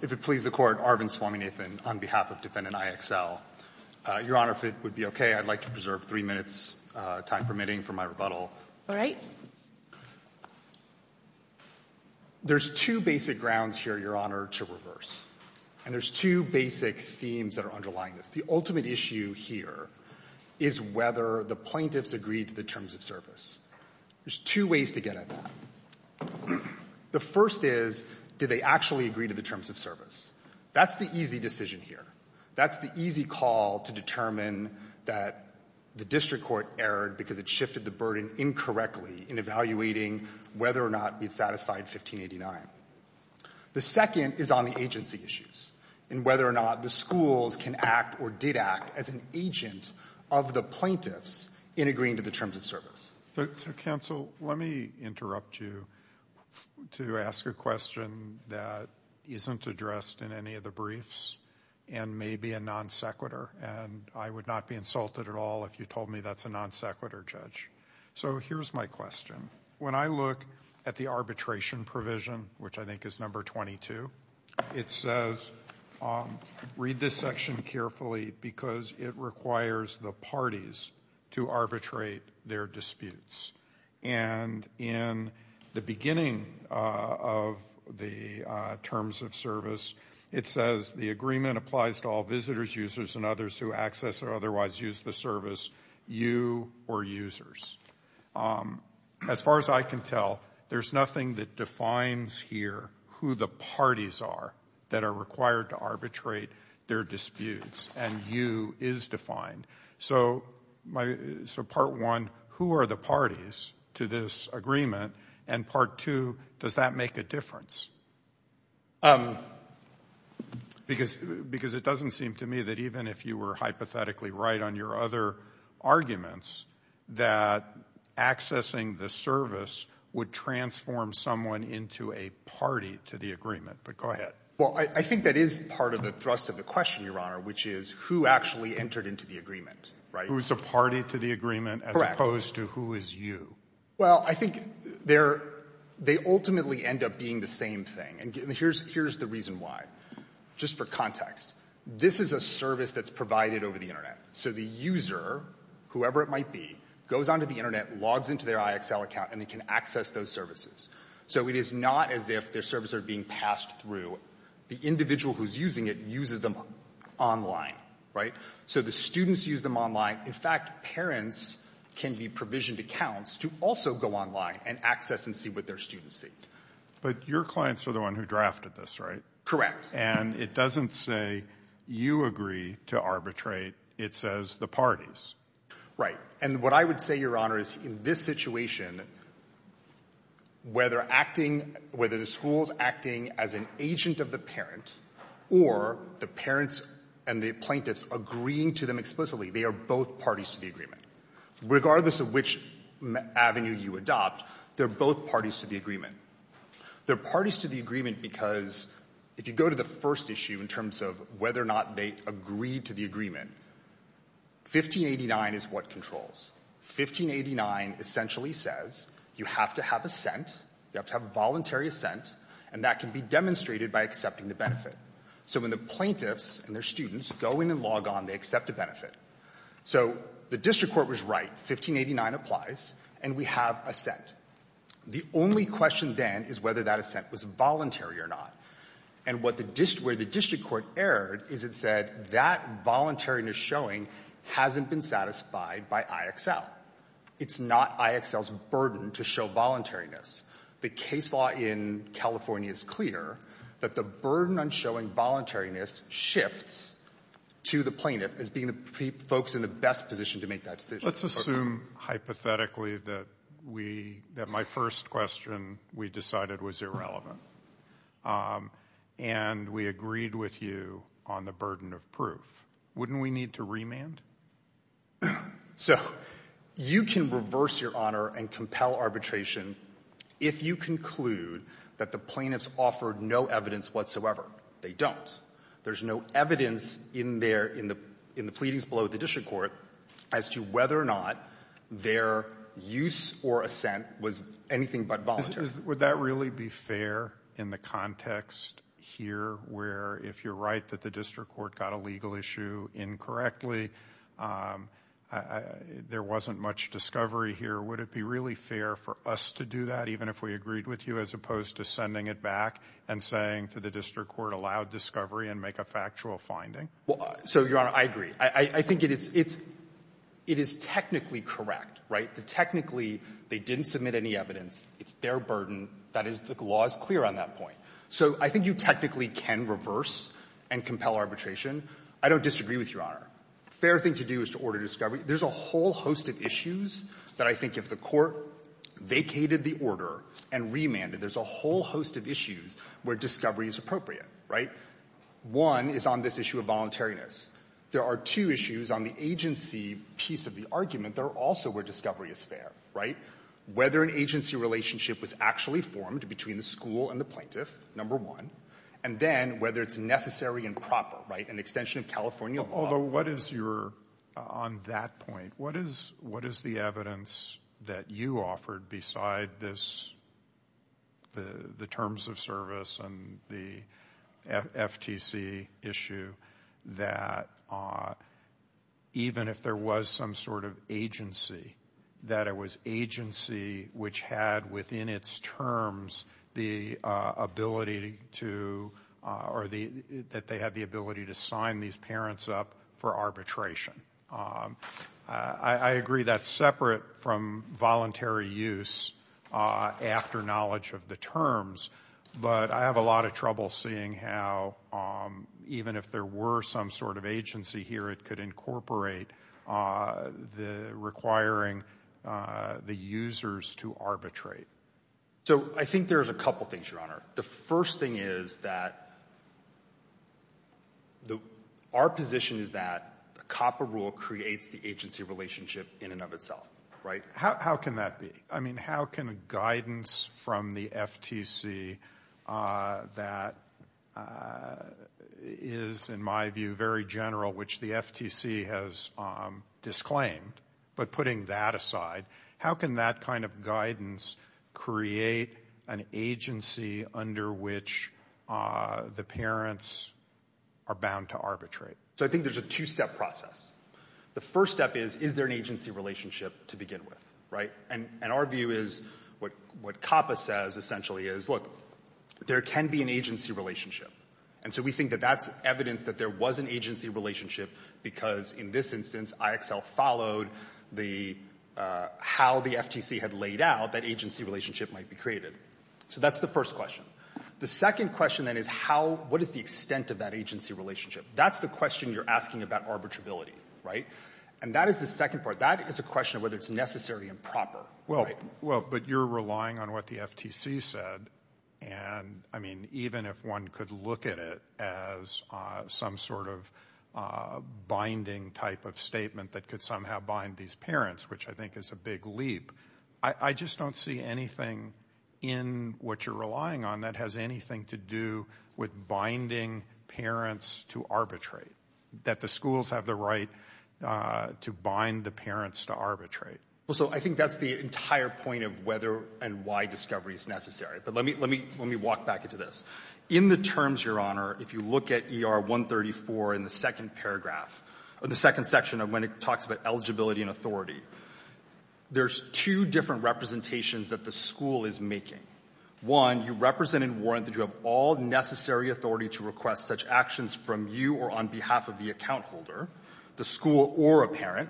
If it pleases the Court, Arvind Swaminathan on behalf of Defendant IXL. Your Honor, if it would be okay, I'd like to preserve three minutes' time permitting for my rebuttal. All right. There's two basic grounds here, Your Honor, to reverse. And there's two basic themes that are underlying this. The ultimate issue here is whether the plaintiffs agreed to the terms of service. There's two ways to get at that. The first is, did they actually agree to the terms of service? That's the easy decision here. That's the easy call to determine that the District Court erred because it shifted the burden incorrectly in evaluating whether or not it satisfied 1589. The second is on the agency issues and whether or not the schools can act or did act as an agent of the plaintiffs in agreeing to the terms of service. So, Counsel, let me interrupt you to ask a question that isn't addressed in any of the briefs and may be a non sequitur. And I would not be insulted at all if you told me that's a non sequitur, Judge. So here's my question. When I look at the arbitration provision, which I think is number 22, it says, read this section carefully because it requires the parties to arbitrate their disputes. And in the beginning of the terms of service, it says, the agreement applies to all visitors, users, and others who access or otherwise use the service, you or users. As far as I can tell, there's nothing that defines here who the parties are that are required to arbitrate their disputes and you is defined. So part one, who are the parties to this agreement? And part two, does that make a difference? Because it doesn't seem to me that even if you were hypothetically right on your other arguments, that accessing the service would transform someone into a party to the agreement. But go ahead. Well, I think that is part of the thrust of the question, Your Honor, which is who actually entered into the agreement, right? Who is a party to the agreement as opposed to who is you? Correct. Well, I think they ultimately end up being the same thing. And here's the reason why, just for context. This is a service that's provided over the Internet. So the user, whoever it might be, goes onto the Internet, logs into their IXL account, and they can access those services. So it is not as if their services are being passed through. The individual who's using it uses them online, right? So the students use them online. In fact, parents can be provisioned accounts to also go online and access and see what their students see. But your clients are the ones who drafted this, right? Correct. And it doesn't say you agree to arbitrate. It says the parties. Right. And what I would say, Your Honor, is in this situation, whether acting — whether the school is acting as an agent of the parent or the parents and the plaintiffs agreeing to them explicitly, they are both parties to the agreement. Regardless of which avenue you adopt, they're both parties to the agreement. They're parties to the agreement because if you go to the first issue in terms of whether or not they agreed to the agreement, 1589 is what controls. 1589 essentially says you have to have assent. You have to have voluntary assent, and that can be demonstrated by accepting the benefit. So when the plaintiffs and their students go in and log on, they accept a benefit. So the district court was right. 1589 applies, and we have assent. The only question then is whether that assent was voluntary or not. And what the — where the district court erred is it said that voluntariness showing hasn't been satisfied by IXL. It's not IXL's burden to show voluntariness. The case law in California is clear that the burden on showing voluntariness shifts to the plaintiff as being the — folks in the best position to make that decision. Let's assume hypothetically that we — that my first question we decided was irrelevant and we agreed with you on the burden of proof. Wouldn't we need to remand? So you can reverse your honor and compel arbitration if you conclude that the plaintiffs offered no evidence whatsoever. They don't. There's no evidence in their — in the pleadings below the district court as to whether or not their use or assent was anything but voluntary. Would that really be fair in the context here where if you're right that the district court got a legal issue incorrectly, there wasn't much discovery here? Would it be really fair for us to do that, even if we agreed with you, as opposed to sending it back and saying to the district court, allow discovery and make a factual finding? So your honor, I agree. I think it's — it is technically correct, right? The technically they didn't submit any evidence. It's their burden. That is — the law is clear on that point. So I think you technically can reverse and compel arbitration. I don't disagree with your honor. A fair thing to do is to order discovery. There's a whole host of issues that I think if the court vacated the order and remanded, there's a whole host of issues where discovery is appropriate, right? One is on this issue of voluntariness. There are two issues on the agency piece of the argument that are also where discovery is fair, right? Whether an agency relationship was actually formed between the school and the plaintiff, number one, and then whether it's necessary and proper, right? An extension of California law — Although, what is your — on that point, what is — what is the evidence that you offered beside this — the terms of service and the FTC issue that even if there was some sort of agency, that it was agency which had within its terms the ability to — or that they had the ability to sign these parents up for arbitration? I agree that's separate from voluntary use after knowledge of the terms, but I have a lot of trouble seeing how even if there were some sort of agency here, it could incorporate the requiring the users to arbitrate. So I think there's a couple things, Your Honor. The first thing is that our position is that the COPPA rule creates the agency relationship in and of itself, right? How can that be? I mean, how can guidance from the FTC that is, in my view, very general, which the FTC has disclaimed, but putting that aside, how can that kind of guidance create an agency under which the parents are bound to arbitrate? So I think there's a two-step process. The first step is, is there an agency relationship to begin with, right? And our view is, what COPPA says essentially is, look, there can be an agency relationship. And so we think that that's evidence that there was an agency relationship because in this instance, IXL followed the — how the FTC had laid out, that agency relationship might be created. So that's the first question. The second question, then, is how — what is the extent of that agency relationship? That's the question you're asking about arbitrability, right? And that is the second part. That is a question of whether it's necessary and proper, right? Well, but you're relying on what the FTC said. And, I mean, even if one could look at it as some sort of binding type of statement that could somehow bind these parents, which I think is a big leap, I just don't see anything in what you're relying on that has anything to do with binding parents to arbitrate, that the schools have the right to bind the parents to arbitrate. Well, so I think that's the entire point of whether and why discovery is necessary. But let me walk back into this. In the terms, Your Honor, if you look at ER 134 in the second paragraph, or the second section of when it talks about eligibility and authority, there's two different representations that the school is making. One, you represent and warrant that you have all necessary authority to request such actions from you or on behalf of the account holder, the school or a parent,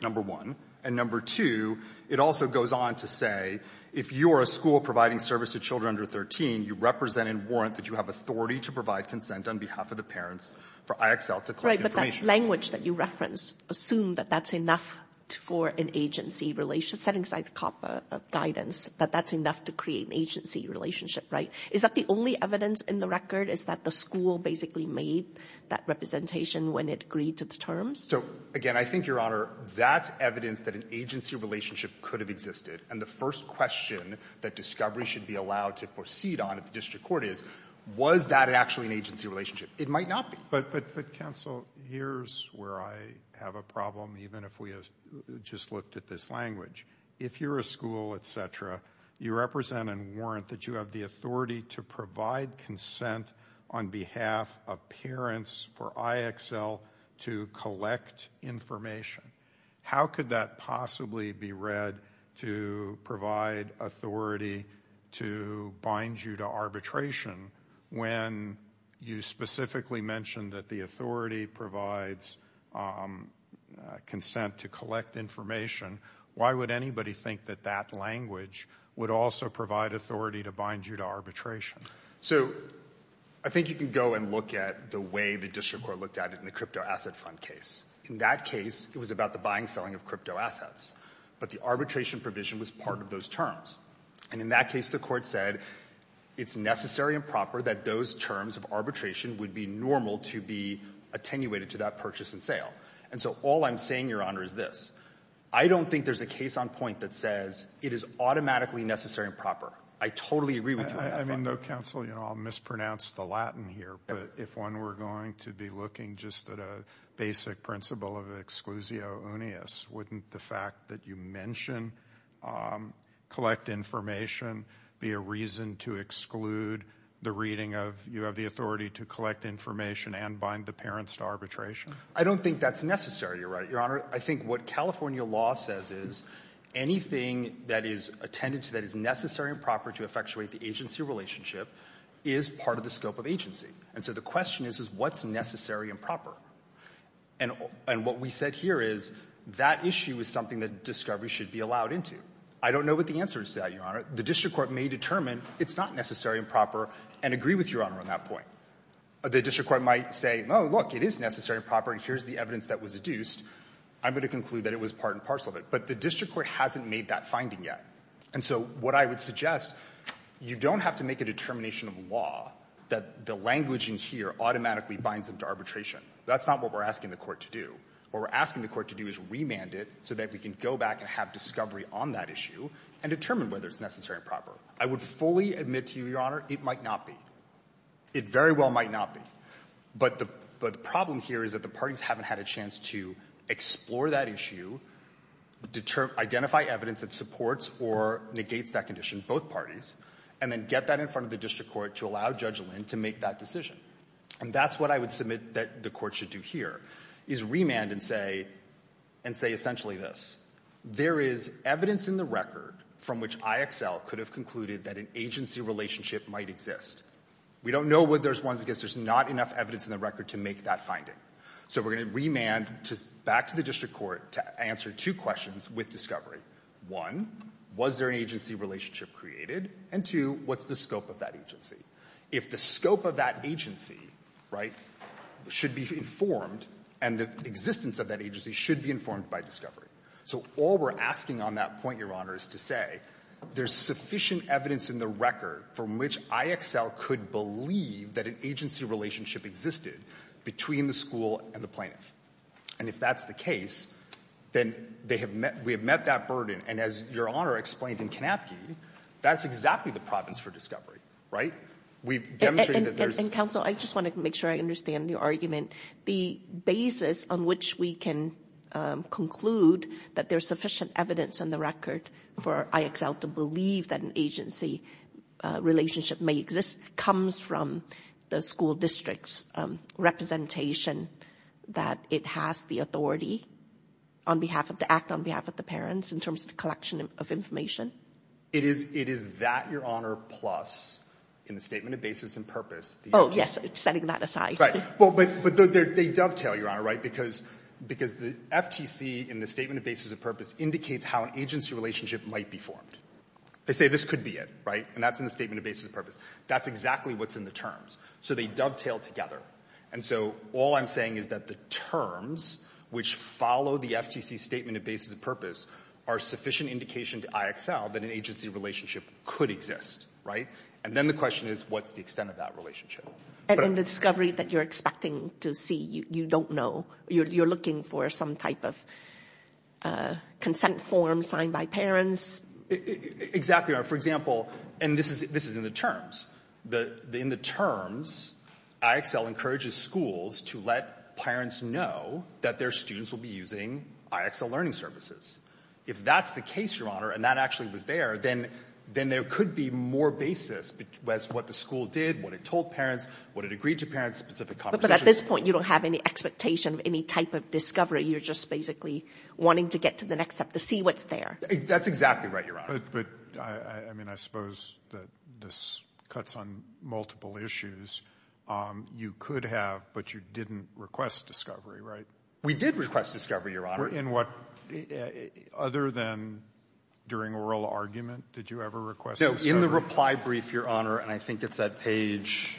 number one. And number two, it also goes on to say, if you are a school providing service to children under 13, you represent and warrant that you have authority to provide consent on behalf of the parents for IXL to collect information. Right, but that language that you referenced, assume that that's enough for an agency relationship, setting aside COPPA guidance, that that's enough to create an agency relationship, right? Is that the only evidence in the record, is that the school basically made that representation when it agreed to the terms? So, again, I think, Your Honor, that's evidence that an agency relationship could have existed. And the first question that discovery should be allowed to proceed on at the district court is, was that actually an agency relationship? It might not be. But, but, but, counsel, here's where I have a problem, even if we have just looked at this language. If you're a school, et cetera, you represent and warrant that you have the authority to provide consent on behalf of parents for IXL to collect information. How could that possibly be read to provide authority to bind you to arbitration when you specifically mentioned that the authority provides consent to collect information? Why would anybody think that that language would also provide authority to bind you to arbitration? So I think you can go and look at the way the district court looked at it in the crypto asset fund case. In that case, it was about the buying and selling of crypto assets. But the arbitration provision was part of those terms. And in that case, the court said it's necessary and proper that those terms of arbitration would be normal to be attenuated to that purchase and sale. And so all I'm saying, Your Honor, is this. I don't think there's a case on point that says it is automatically necessary and proper. I totally agree with you. I mean, no, counsel, you know, I'll mispronounce the Latin here. But if one were going to be looking just at a basic principle of exclusio uneus, wouldn't the fact that you mention collect information be a reason to exclude the reading of you have the authority to collect information and bind the parents to arbitration? I don't think that's necessary. You're right, Your Honor. I think what California law says is anything that is attended to that is necessary and proper to effectuate the agency relationship is part of the scope of agency. And so the question is, is what's necessary and proper? And what we said here is that issue is something that discovery should be allowed into. I don't know what the answer is to that, Your Honor. The district court may determine it's not necessary and proper and agree with Your Honor on that point. The district court might say, oh, look, it is necessary and proper, and here's the evidence that was adduced. I'm going to conclude that it was part and parcel of it. But the district court hasn't made that finding yet. And so what I would suggest, you don't have to make a determination of law that the language in here automatically binds them to arbitration. That's not what we're asking the court to do. What we're asking the court to do is remand it so that we can go back and have discovery on that issue and determine whether it's necessary and proper. I would fully admit to you, Your Honor, it might not be. It very well might not be. But the problem here is that the parties haven't had a chance to explore that issue, identify evidence that supports or negates that condition of both parties, and then get that in front of the district court to allow Judge Lynn to make that decision. And that's what I would submit that the court should do here, is remand and say, and say essentially this. There is evidence in the record from which IXL could have concluded that an agency relationship might exist. We don't know whether there's one, I guess there's not enough evidence in the record to make that finding. So we're going to remand back to the district court to answer two questions with discovery. One, was there an agency relationship created? And two, what's the scope of that agency? If the scope of that agency, right, should be informed, and the existence of that agency should be informed by discovery. So all we're asking on that point, Your Honor, is to say that there's sufficient evidence in the record from which IXL could believe that an agency relationship existed between the school and the plaintiff. And if that's the case, then they have met we have met that burden. And as Your Honor explained in Kanapke, that's exactly the province for discovery, right? We've demonstrated that there's And counsel, I just want to make sure I understand your argument. The basis on which we can conclude that there's sufficient evidence in the record for IXL to believe that an agency relationship may exist comes from the school district's representation that it has the authority on behalf of the act, on behalf of the parents, in terms of the collection of information. It is that, Your Honor, plus in the statement of basis and purpose. Oh, yes. Setting that aside. Right. Well, but they dovetail, Your Honor, right? Because the FTC in the statement of basis of purpose indicates how an agency relationship might be formed. They say this could be it, right? And that's in the statement of basis of purpose. That's exactly what's in the terms. So they dovetail together. And so all I'm saying is that the terms which follow the FTC statement of basis of purpose are sufficient indication to IXL that an agency relationship could exist, right? And then the question is, what's the extent of that relationship? And in the discovery that you're expecting to see, you don't know. You're looking for some type of consent form signed by parents. Exactly, Your Honor. For example, and this is in the terms. In the terms, IXL encourages schools to let parents know that their students will be using IXL learning services. If that's the case, Your Honor, and that actually was there, then there could be more basis as to what the school did, what it told parents, what it agreed to parents, specific conversations. So at this point, you don't have any expectation of any type of discovery. You're just basically wanting to get to the next step to see what's there. That's exactly right, Your Honor. But I mean, I suppose that this cuts on multiple issues. You could have, but you didn't request discovery, right? We did request discovery, Your Honor. In what? Other than during oral argument, did you ever request discovery? In the reply brief, Your Honor, and I think it's that page,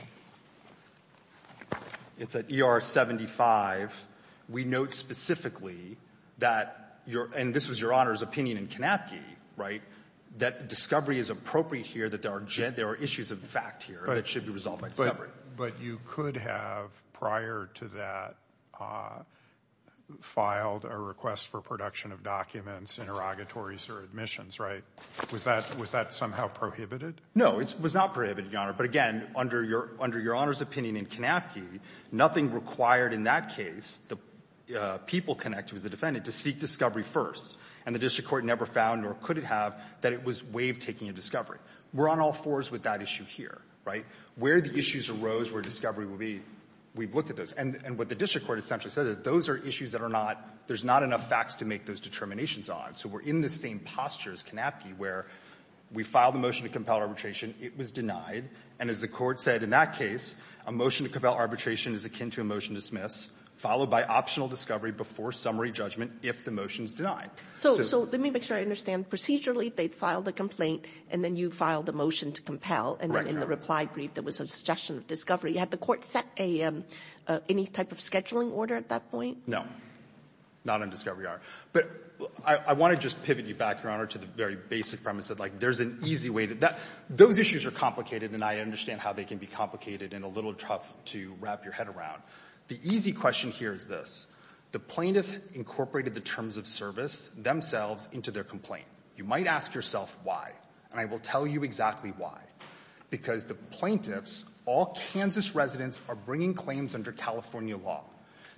it's at ER 75, we note specifically that, and this was Your Honor's opinion in Kanapke, right, that discovery is appropriate here, that there are issues of fact here that should be resolved by discovery. But you could have, prior to that, filed a request for production of documents, interrogatories or admissions, right? Was that somehow prohibited? No, it was not prohibited, Your Honor. But again, under Your Honor's opinion in Kanapke, nothing required in that case, the people connected with the defendant to seek discovery first, and the district court never found nor could it have that it was way of taking a discovery. We're on all fours with that issue here, right? Where the issues arose where discovery would be, we've looked at those. And what the district court essentially said is those are issues that are not, there's not enough facts to make those determinations on. So we're in the same posture as Kanapke, where we filed a motion to compel arbitration. It was denied. And as the Court said in that case, a motion to compel arbitration is akin to a motion to dismiss, followed by optional discovery before summary judgment if the motion is denied. So let me make sure I understand. Procedurally, they filed a complaint, and then you filed a motion to compel. Right, Your Honor. And then in the reply brief, there was a suggestion of discovery. Had the Court set any type of scheduling order at that point? No. Not on discovery, Your Honor. But I want to just pivot you back, Your Honor, to the very basic premise that, like, there's an easy way to do that. Those issues are complicated, and I understand how they can be complicated and a little tough to wrap your head around. The easy question here is this. The plaintiffs incorporated the terms of service themselves into their complaint. You might ask yourself why, and I will tell you exactly why. Because the plaintiffs, all Kansas residents, are bringing claims under California law.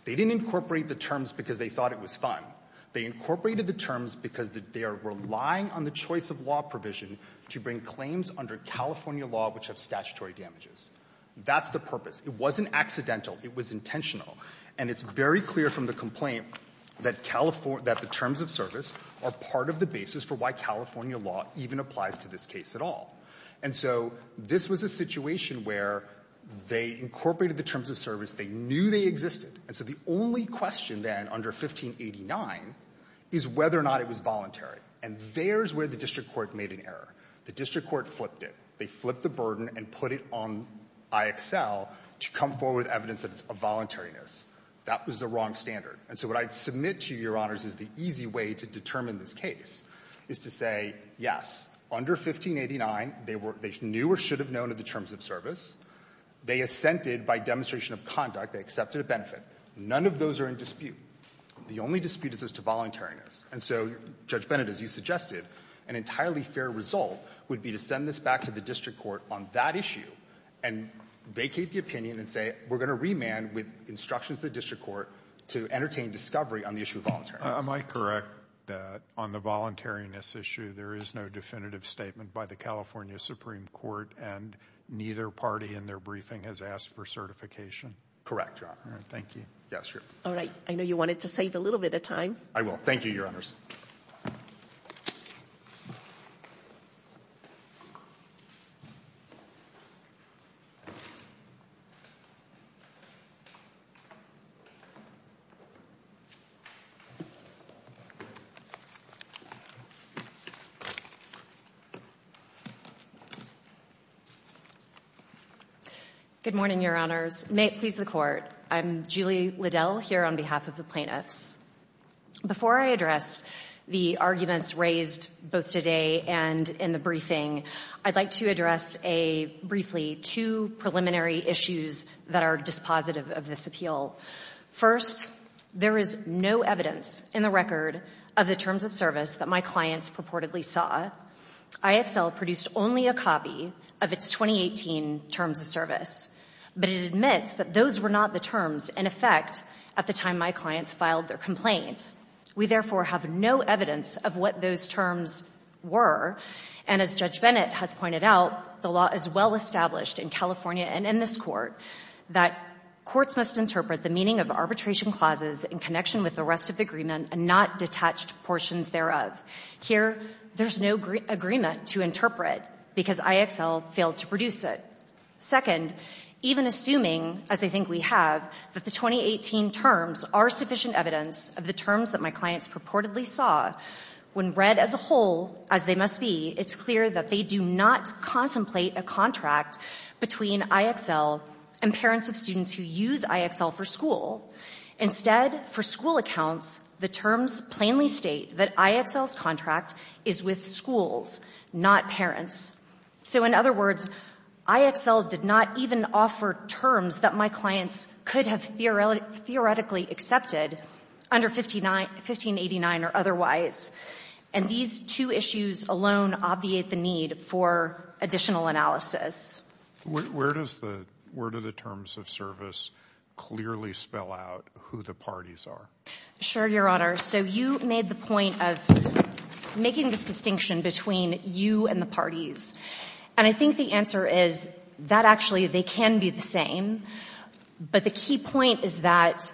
They didn't incorporate the terms because they thought it was fun. They incorporated the terms because they are relying on the choice of law provision to bring claims under California law which have statutory damages. That's the purpose. It wasn't accidental. It was intentional. And it's very clear from the complaint that the terms of service are part of the basis for why California law even applies to this case at all. And so this was a situation where they incorporated the terms of service. They knew they existed. And so the only question, then, under 1589 is whether or not it was voluntary. And there's where the district court made an error. The district court flipped it. They flipped the burden and put it on IXL to come forward with evidence that it's a voluntariness. That was the wrong standard. And so what I'd submit to you, Your Honors, is the easy way to determine this case is to say, yes, under 1589, they were — they knew or should have known of the terms of service. They assented by demonstration of conduct. They accepted a benefit. None of those are in dispute. The only dispute is as to voluntariness. And so, Judge Bennett, as you suggested, an entirely fair result would be to send this back to the district court on that issue and vacate the opinion and say, we're going to remand with instructions of the district court to entertain discovery on the issue of voluntariness. Am I correct that on the voluntariness issue, there is no definitive statement by the California Supreme Court, and neither party in their briefing has asked for certification? Correct, Your Honor. All right. Thank you. Yes, Your Honor. All right. I know you wanted to save a little bit of time. Good morning, Your Honors. May it please the Court, I'm Julie Liddell here on behalf of the plaintiffs. Before I address the arguments raised both today and in the briefing, I'd like to address a — briefly, two preliminary issues that are dispositive of this appeal. First, there is no evidence in the record of the terms of service that my clients purportedly saw. ISL produced only a copy of its 2018 terms of service, but it admits that those were not the terms in effect at the time my clients filed their complaint. We, therefore, have no evidence of what those terms were. And as Judge Bennett has pointed out, the law is well established in California and in this Court that courts must interpret the meaning of arbitration clauses in connection with the rest of the agreement and not detached portions thereof. Here, there's no agreement to interpret because IXL failed to produce it. Second, even assuming, as I think we have, that the 2018 terms are sufficient evidence of the terms that my clients purportedly saw, when read as a whole, as they must be, it's clear that they do not contemplate a contract between IXL and parents of students who use IXL for school. Instead, for school accounts, the terms plainly state that IXL's contract is with schools, not parents. So, in other words, IXL did not even offer terms that my clients could have theoretically accepted under 1589 or otherwise. And these two issues alone obviate the need for additional analysis. Where does the word of the terms of service clearly spell out who the parties are? Sure, Your Honor. So you made the point of making this distinction between you and the parties. And I think the answer is that actually they can be the same. But the key point is that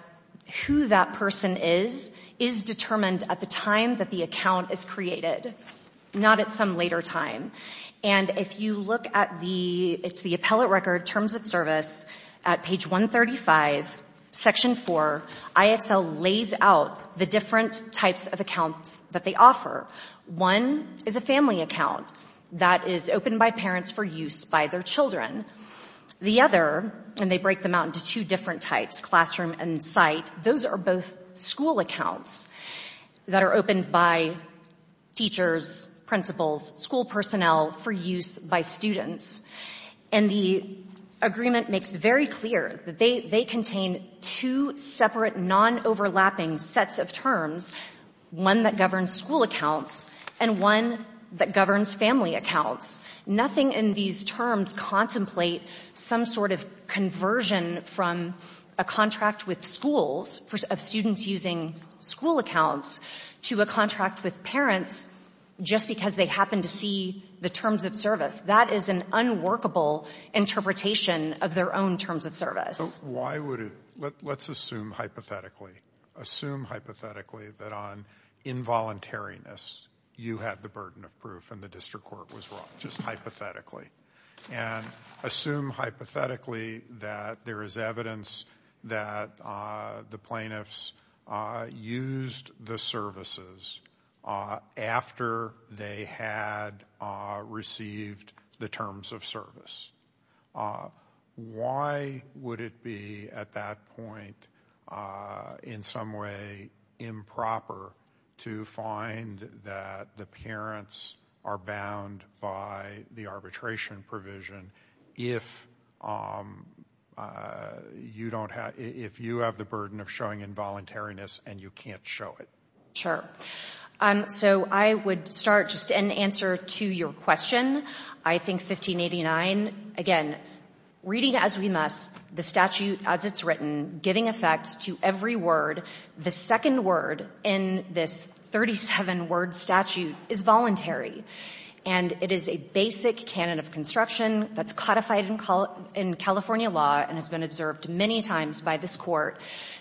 who that person is is determined at the time that the account is created, not at some later time. And if you look at the, it's the appellate record, terms of service, at page 135, section 4, IXL lays out the different types of accounts that they offer. One is a family account that is opened by parents for use by their children. The other, and they break them out into two different types, classroom and site, those are both school accounts that are opened by teachers, principals, school personnel for use by students. And the agreement makes very clear that they contain two separate non-overlapping sets of terms, one that governs school accounts and one that governs family accounts. Nothing in these terms contemplate some sort of conversion from a contract with schools of students using school accounts to a contract with parents just because they happen to see the terms of service. That is an unworkable interpretation of their own terms of service. So why would it, let's assume hypothetically, assume hypothetically that on involuntariness you had the burden of proof and the district court was wrong, just hypothetically. And assume hypothetically that there is evidence that the plaintiffs used the services after they had received the terms of service. Why would it be at that point in some way improper to find that the parents are bound by the arbitration provision if you have the burden of showing involuntariness and you can't show it? Sure. So I would start, just in answer to your question, I think 1589, again, reading as we must, the statute as it's written, giving effect to every word, the second word in this 37-word statute is voluntary. And it is a basic canon of construction that's codified in California law and has been observed many times by this Court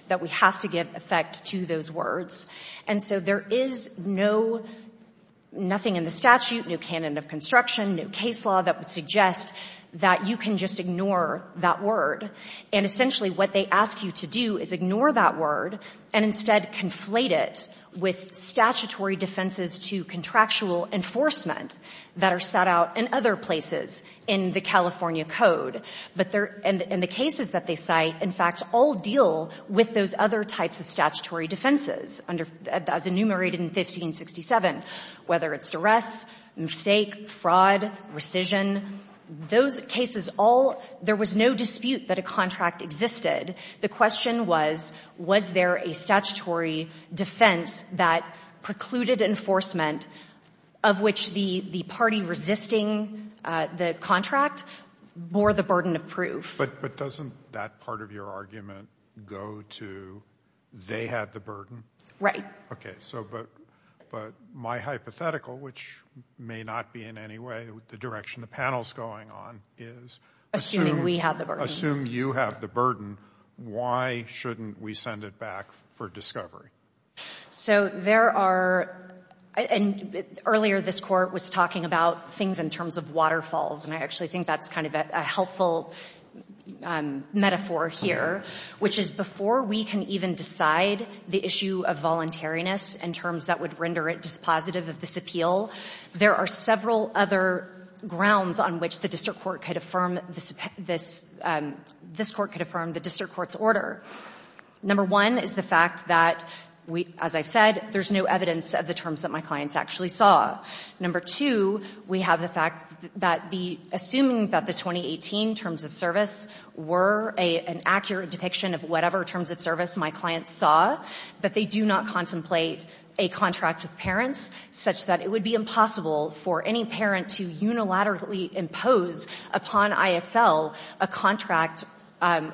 that we have to give effect to those words. And so there is no, nothing in the statute, no canon of construction, no case law that would suggest that you can just ignore that word. And essentially what they ask you to do is ignore that word and instead conflate it with statutory defenses to contractual enforcement that are set out in other places in the California Code. But there — and the cases that they cite, in fact, all deal with those other types of statutory defenses under — as enumerated in 1567, whether it's duress, mistake, fraud, rescission, those cases all — there was no dispute that a contract existed. The question was, was there a statutory defense that precluded enforcement of which the party resisting the contract bore the burden of proof? But doesn't that part of your argument go to they had the burden? Right. Okay. So but my hypothetical, which may not be in any way the direction the panel's going on, is — Assuming we have the burden. Assume you have the burden, why shouldn't we send it back for discovery? So there are — and earlier this Court was talking about things in terms of waterfalls, and I actually think that's kind of a helpful metaphor here, which is before we can even decide the issue of voluntariness in terms that would render it dispositive of this appeal, there are several other grounds on which the District Court could affirm this — this Court could affirm the District Court's order. Number one is the fact that, as I've said, there's no evidence of the terms that my clients actually saw. Number two, we have the fact that the — assuming that the 2018 terms of service were an accurate depiction of whatever terms of service my clients saw, that they do not contemplate a contract with parents such that it would be impossible for any parent to unilaterally impose upon IXL a contract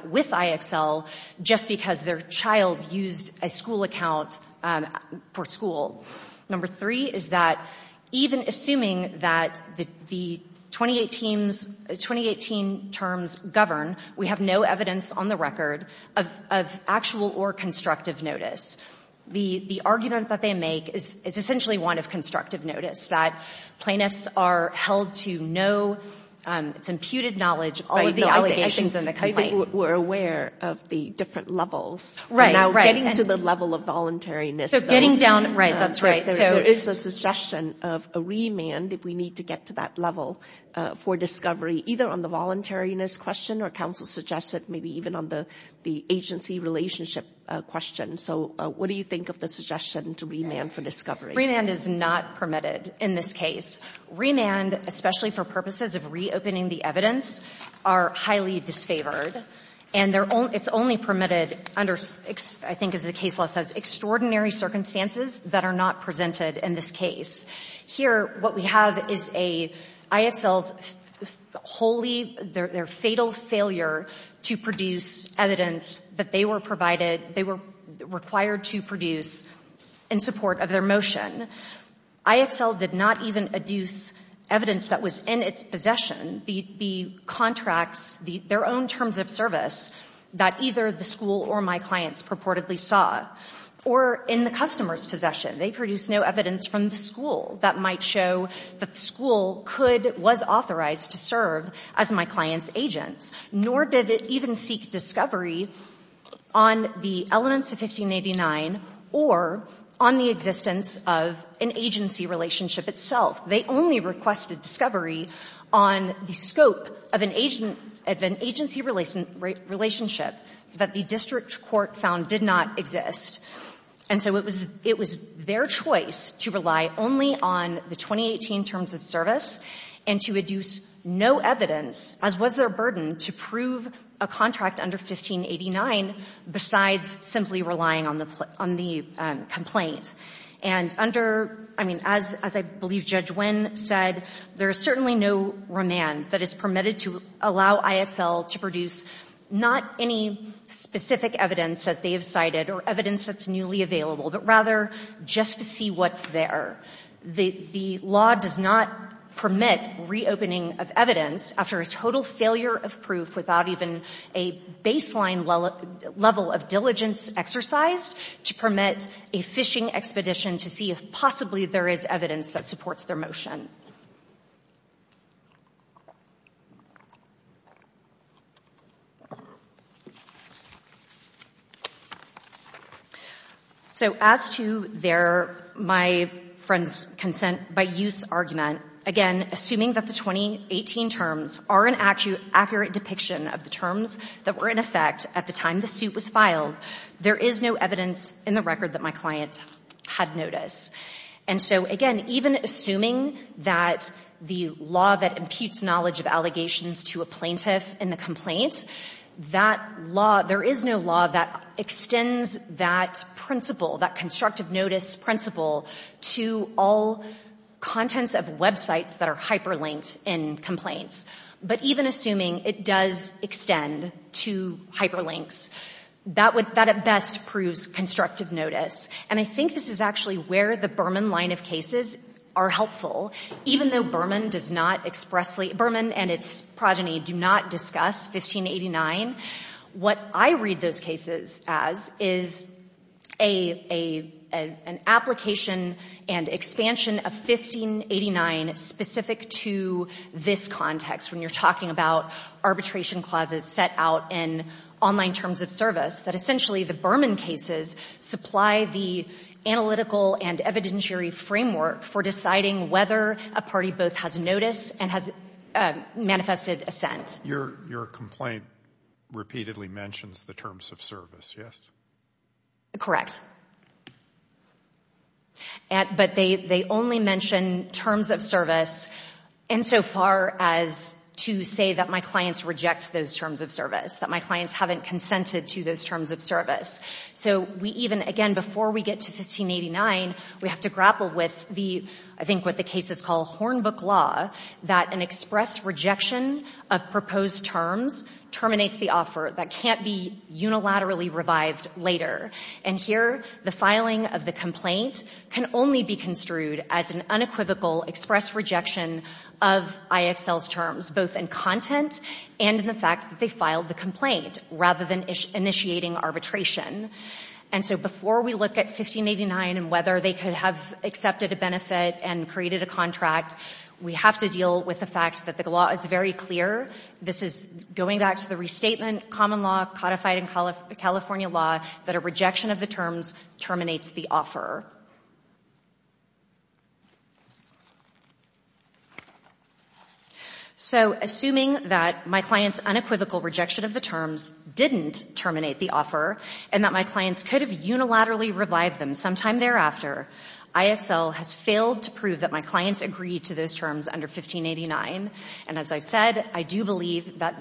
with IXL just because their child used a school account for school. Number three is that, even assuming that the 2018's — 2018 terms govern the terms govern, we have no evidence on the record of actual or constructive notice. The argument that they make is essentially one of constructive notice, that plaintiffs are held to know, it's imputed knowledge, all of the allegations in the complaint. I think we're aware of the different levels. Right, right. Now, getting to the level of voluntariness — So getting down — right, that's right. There is a suggestion of a remand if we need to get to that level for discovery, either on the voluntariness question, or counsel suggested maybe even on the agency relationship question. So what do you think of the suggestion to remand for discovery? Remand is not permitted in this case. Remand, especially for purposes of reopening the evidence, are highly disfavored. And it's only permitted under, I think as the case law says, extraordinary circumstances that are not presented in this case. Here, what we have is a — IXL's wholly — their fatal failure to produce evidence that they were provided, they were required to produce in support of their motion. IXL did not even adduce evidence that was in its possession, the contracts, their own terms of service, that either the school or my clients purportedly saw, or in the customer's possession. They produced no evidence from the school that might show that the school could — was authorized to serve as my client's agent. Nor did it even seek discovery on the elements of 1589 or on the existence of an agency relationship itself. They only requested discovery on the scope of an agency relationship that the district court found did not exist. And so it was their choice to rely only on the 2018 terms of service and to adduce no evidence, as was their burden, to prove a contract under 1589 besides simply relying on the — on the complaint. And under — I mean, as I believe Judge Wynn said, there is certainly no remand that is permitted to allow IXL to produce not any specific evidence that they have provided or evidence that's newly available, but rather just to see what's there. The law does not permit reopening of evidence after a total failure of proof without even a baseline level of diligence exercised to permit a phishing expedition to see if possibly there is evidence that supports their motion. So, as to their — my friend's consent-by-use argument, again, assuming that the 2018 terms are an accurate depiction of the terms that were in effect at the time the suit was filed, there is no evidence in the record that my client had notice. And so, again, even assuming that the law that imputes knowledge of allegations to a plaintiff in the complaint, that law — there is no law that extends that principle, that constructive notice principle, to all contents of websites that are hyperlinked in complaints. But even assuming it does extend to hyperlinks, that would — that at best proves constructive notice. And I think this is actually where the Berman line of cases are helpful. Even though Berman does not expressly — Berman and its progeny do not discuss 1589, what I read those cases as is a — an application and expansion of 1589 specific to this context, when you're talking about arbitration clauses set out in online terms of service, that essentially the Berman cases supply the analytical and evidentiary framework for deciding whether a party both has notice and has manifested assent. Your — your complaint repeatedly mentions the terms of service, yes? Correct. But they — they only mention terms of service insofar as to say that my clients reject those terms of service, that my clients haven't consented to those terms of service. So we even — again, before we get to 1589, we have to grapple with the — I think what the cases call hornbook law, that an express rejection of proposed terms terminates the offer that can't be unilaterally revived later. And here, the filing of the complaint can only be construed as an unequivocal express rejection of IXL's terms, both in content and in the fact that they filed the complaint rather than initiating arbitration. And so before we look at 1589 and whether they could have accepted a benefit and created a contract, we have to deal with the fact that the law is very clear. This is going back to the restatement common law codified in California law, that a rejection of the terms terminates the offer. So assuming that my client's unequivocal rejection of the terms didn't terminate the offer and that my clients could have unilaterally revived them sometime thereafter, IXL has failed to prove that my clients agreed to those terms under 1589. And as I've said, I do believe that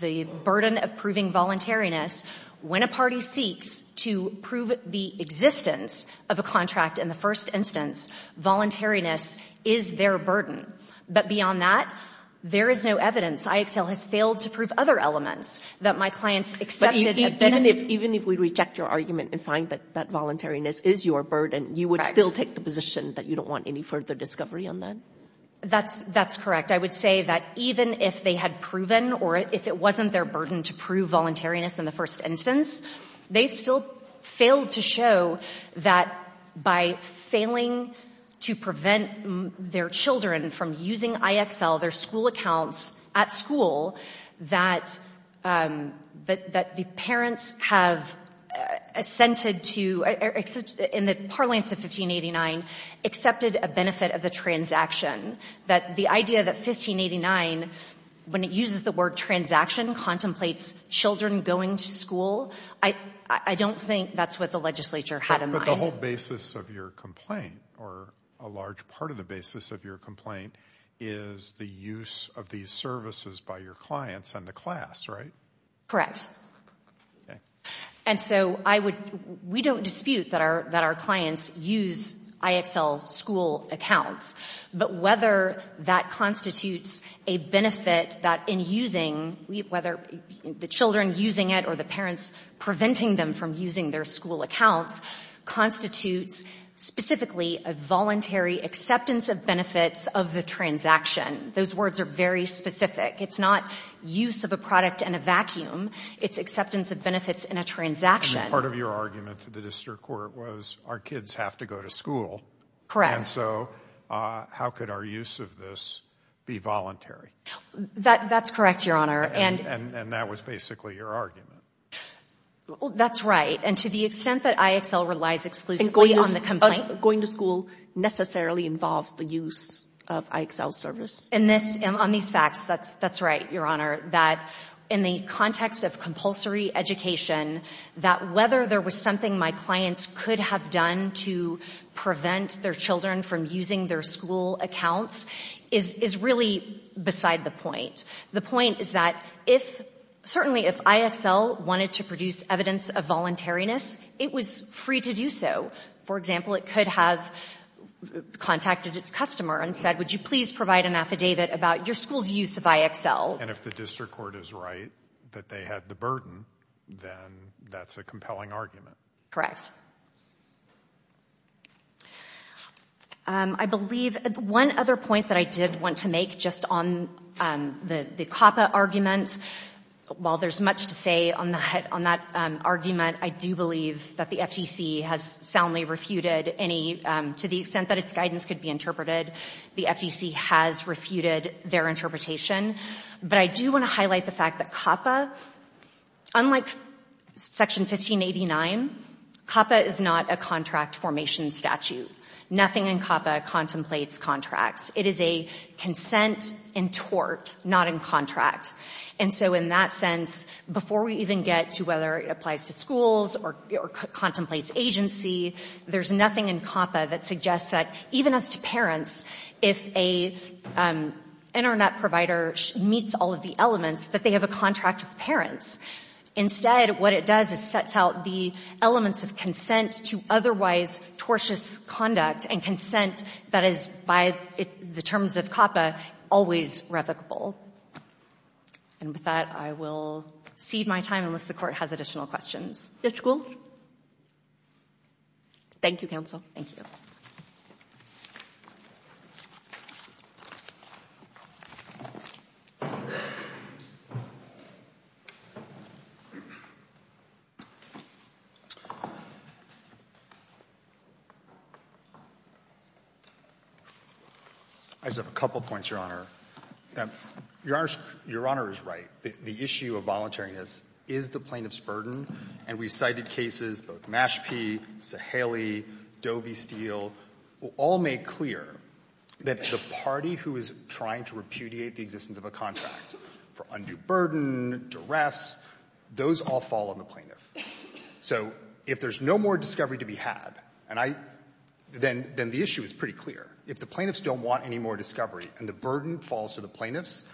the burden of proving voluntariness when a party seeks to prove the existence of a contract in the first instance, voluntariness is their burden. But beyond that, there is no evidence. IXL has failed to prove other elements that my clients accepted a benefit. Even if we reject your argument and find that that voluntariness is your burden, you would still take the position that you don't want any further discovery on that? That's correct. I would say that even if they had proven or if it wasn't their burden to prove voluntariness in the first instance, they've still failed to show that by failing to prevent their children from using IXL, their school accounts at school, that the parents have assented to, in the parlance of 1589, accepted a benefit of the transaction, that the idea that 1589, when it uses the word transaction, contemplates children going to school, I don't think that's what the legislature had in mind. But the whole basis of your complaint, or a large part of the basis of your complaint, is the use of these services by your clients and the class, right? Correct. Okay. And so I would, we don't dispute that our clients use IXL school accounts, but whether that constitutes a benefit that in using, whether the children using it or the parents preventing them from using their school accounts, constitutes specifically a voluntary acceptance of benefits of the transaction. Those words are very specific. It's not use of a product in a vacuum. It's acceptance of benefits in a transaction. Part of your argument to the district court was our kids have to go to school. Correct. And so how could our use of this be voluntary? That's correct, Your Honor. And that was basically your argument. That's right. And to the extent that IXL relies exclusively on the complaint. Going to school necessarily involves the use of IXL service? In this, on these facts, that's right, Your Honor. That in the context of compulsory education, that whether there was something my clients could have done to prevent their children from using their school accounts is, is really beside the point. The point is that if, certainly if IXL wanted to produce evidence of voluntariness, it was free to do so. For example, it could have contacted its customer and said, would you please provide an affidavit about your school's use of IXL? And if the district court is right that they had the burden, then that's a compelling argument. Correct. I believe one other point that I did want to make just on the, the COPPA argument. While there's much to say on the, on that argument, I do believe that the FTC has soundly refuted any, to the extent that its guidance could be interpreted, the FTC has refuted their interpretation. But I do want to highlight the fact that COPPA, unlike Section 1589, COPPA is not a contract formation statute. Nothing in COPPA contemplates contracts. It is a consent and tort, not in contract. And so in that sense, before we even get to whether it applies to schools or, or contemplates agency, there's nothing in COPPA that suggests that even as to parents, if a Internet provider meets all of the elements, that they have a contract with parents. Instead, what it does is sets out the elements of consent to otherwise tortious conduct and consent that is by the terms of COPPA always revocable. And with that, I will cede my time unless the Court has additional questions. Judge Gould? Thank you, counsel. Thank you. I just have a couple of points, Your Honor. Your Honor is right. The issue of voluntariness is the plaintiff's burden. And we've cited cases, both Mashpee, Saheli, Doe v. Steele, all make clear that the party who is trying to repudiate the existence of a contract for undue burden, duress, those all fall on the plaintiff. So if there's no more discovery to be had, and I — then, then the issue is pretty clear. If the plaintiffs don't want any more discovery and the burden falls to the plaintiffs,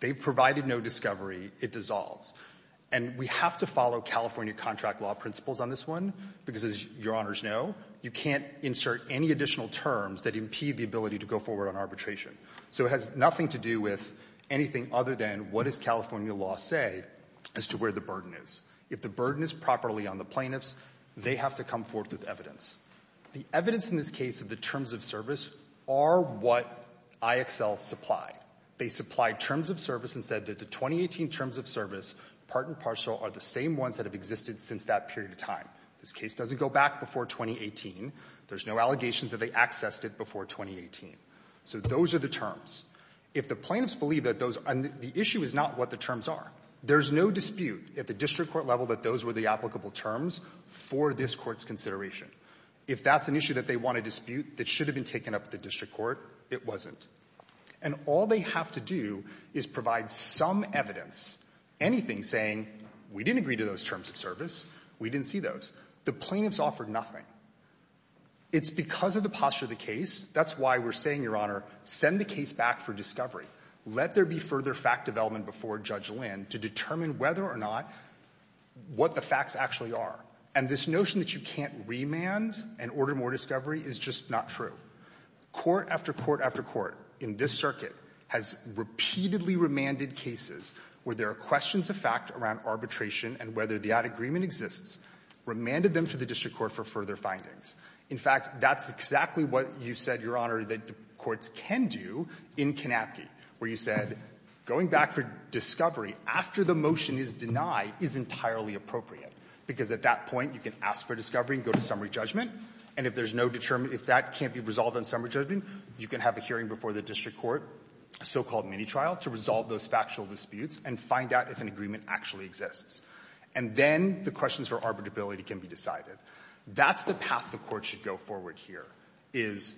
they've provided no discovery, it dissolves. And we have to follow California contract law principles on this one, because as Your Honors know, you can't insert any additional terms that impede the ability to go forward on arbitration. So it has nothing to do with anything other than what does California law say as to where the burden is. If the burden is properly on the plaintiffs, they have to come forth with evidence. The evidence in this case of the terms of service are what IXLs supply. They supply terms of service and said that the 2018 terms of service, part and partial, are the same ones that have existed since that period of time. This case doesn't go back before 2018. There's no allegations that they accessed it before 2018. So those are the terms. If the plaintiffs believe that those — and the issue is not what the terms are. There's no dispute at the district court level that those were the applicable terms for this Court's consideration. If that's an issue that they want to dispute that should have been taken up at the district court, it wasn't. And all they have to do is provide some evidence, anything saying we didn't agree to those terms of service, we didn't see those. The plaintiffs offered nothing. It's because of the posture of the case. That's why we're saying, Your Honor, send the case back for discovery. Let there be further fact development before Judge Lynn to determine whether or not what the facts actually are. And this notion that you can't remand and order more discovery is just not true. Court after court after court in this circuit has repeatedly remanded cases where there are questions of fact around arbitration and whether the ad agreement exists, remanded them to the district court for further findings. In fact, that's exactly what you said, Your Honor, that courts can do in Kanapky, where you said going back for discovery after the motion is denied is entirely appropriate because at that point you can ask for discovery and go to summary judgment, and if there's no determination, if that can't be resolved on summary judgment, you can have a hearing before the district court, a so-called mini-trial, to resolve those factual disputes and find out if an agreement actually exists. And then the questions for arbitrability can be decided. That's the path the court should go forward here, is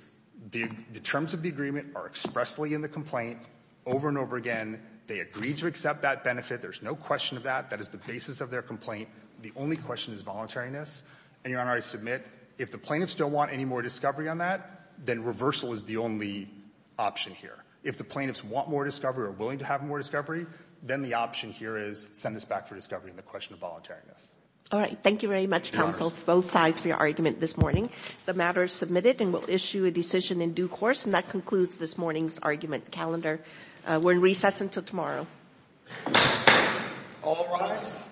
the terms of the agreement are expressly in the complaint over and over again. They agreed to accept that benefit. There's no question of that. That is the basis of their complaint. The only question is voluntariness. And Your Honor, I submit if the plaintiffs don't want any more discovery on that, then reversal is the only option here. If the plaintiffs want more discovery or are willing to have more discovery, then the option here is send us back for discovery on the question of voluntariness. Ginsburg. All right. Thank you very much, counsel, both sides for your argument this morning. The matter is submitted and will issue a decision in due course. And that concludes this morning's argument calendar. We're in recess until tomorrow. All rise.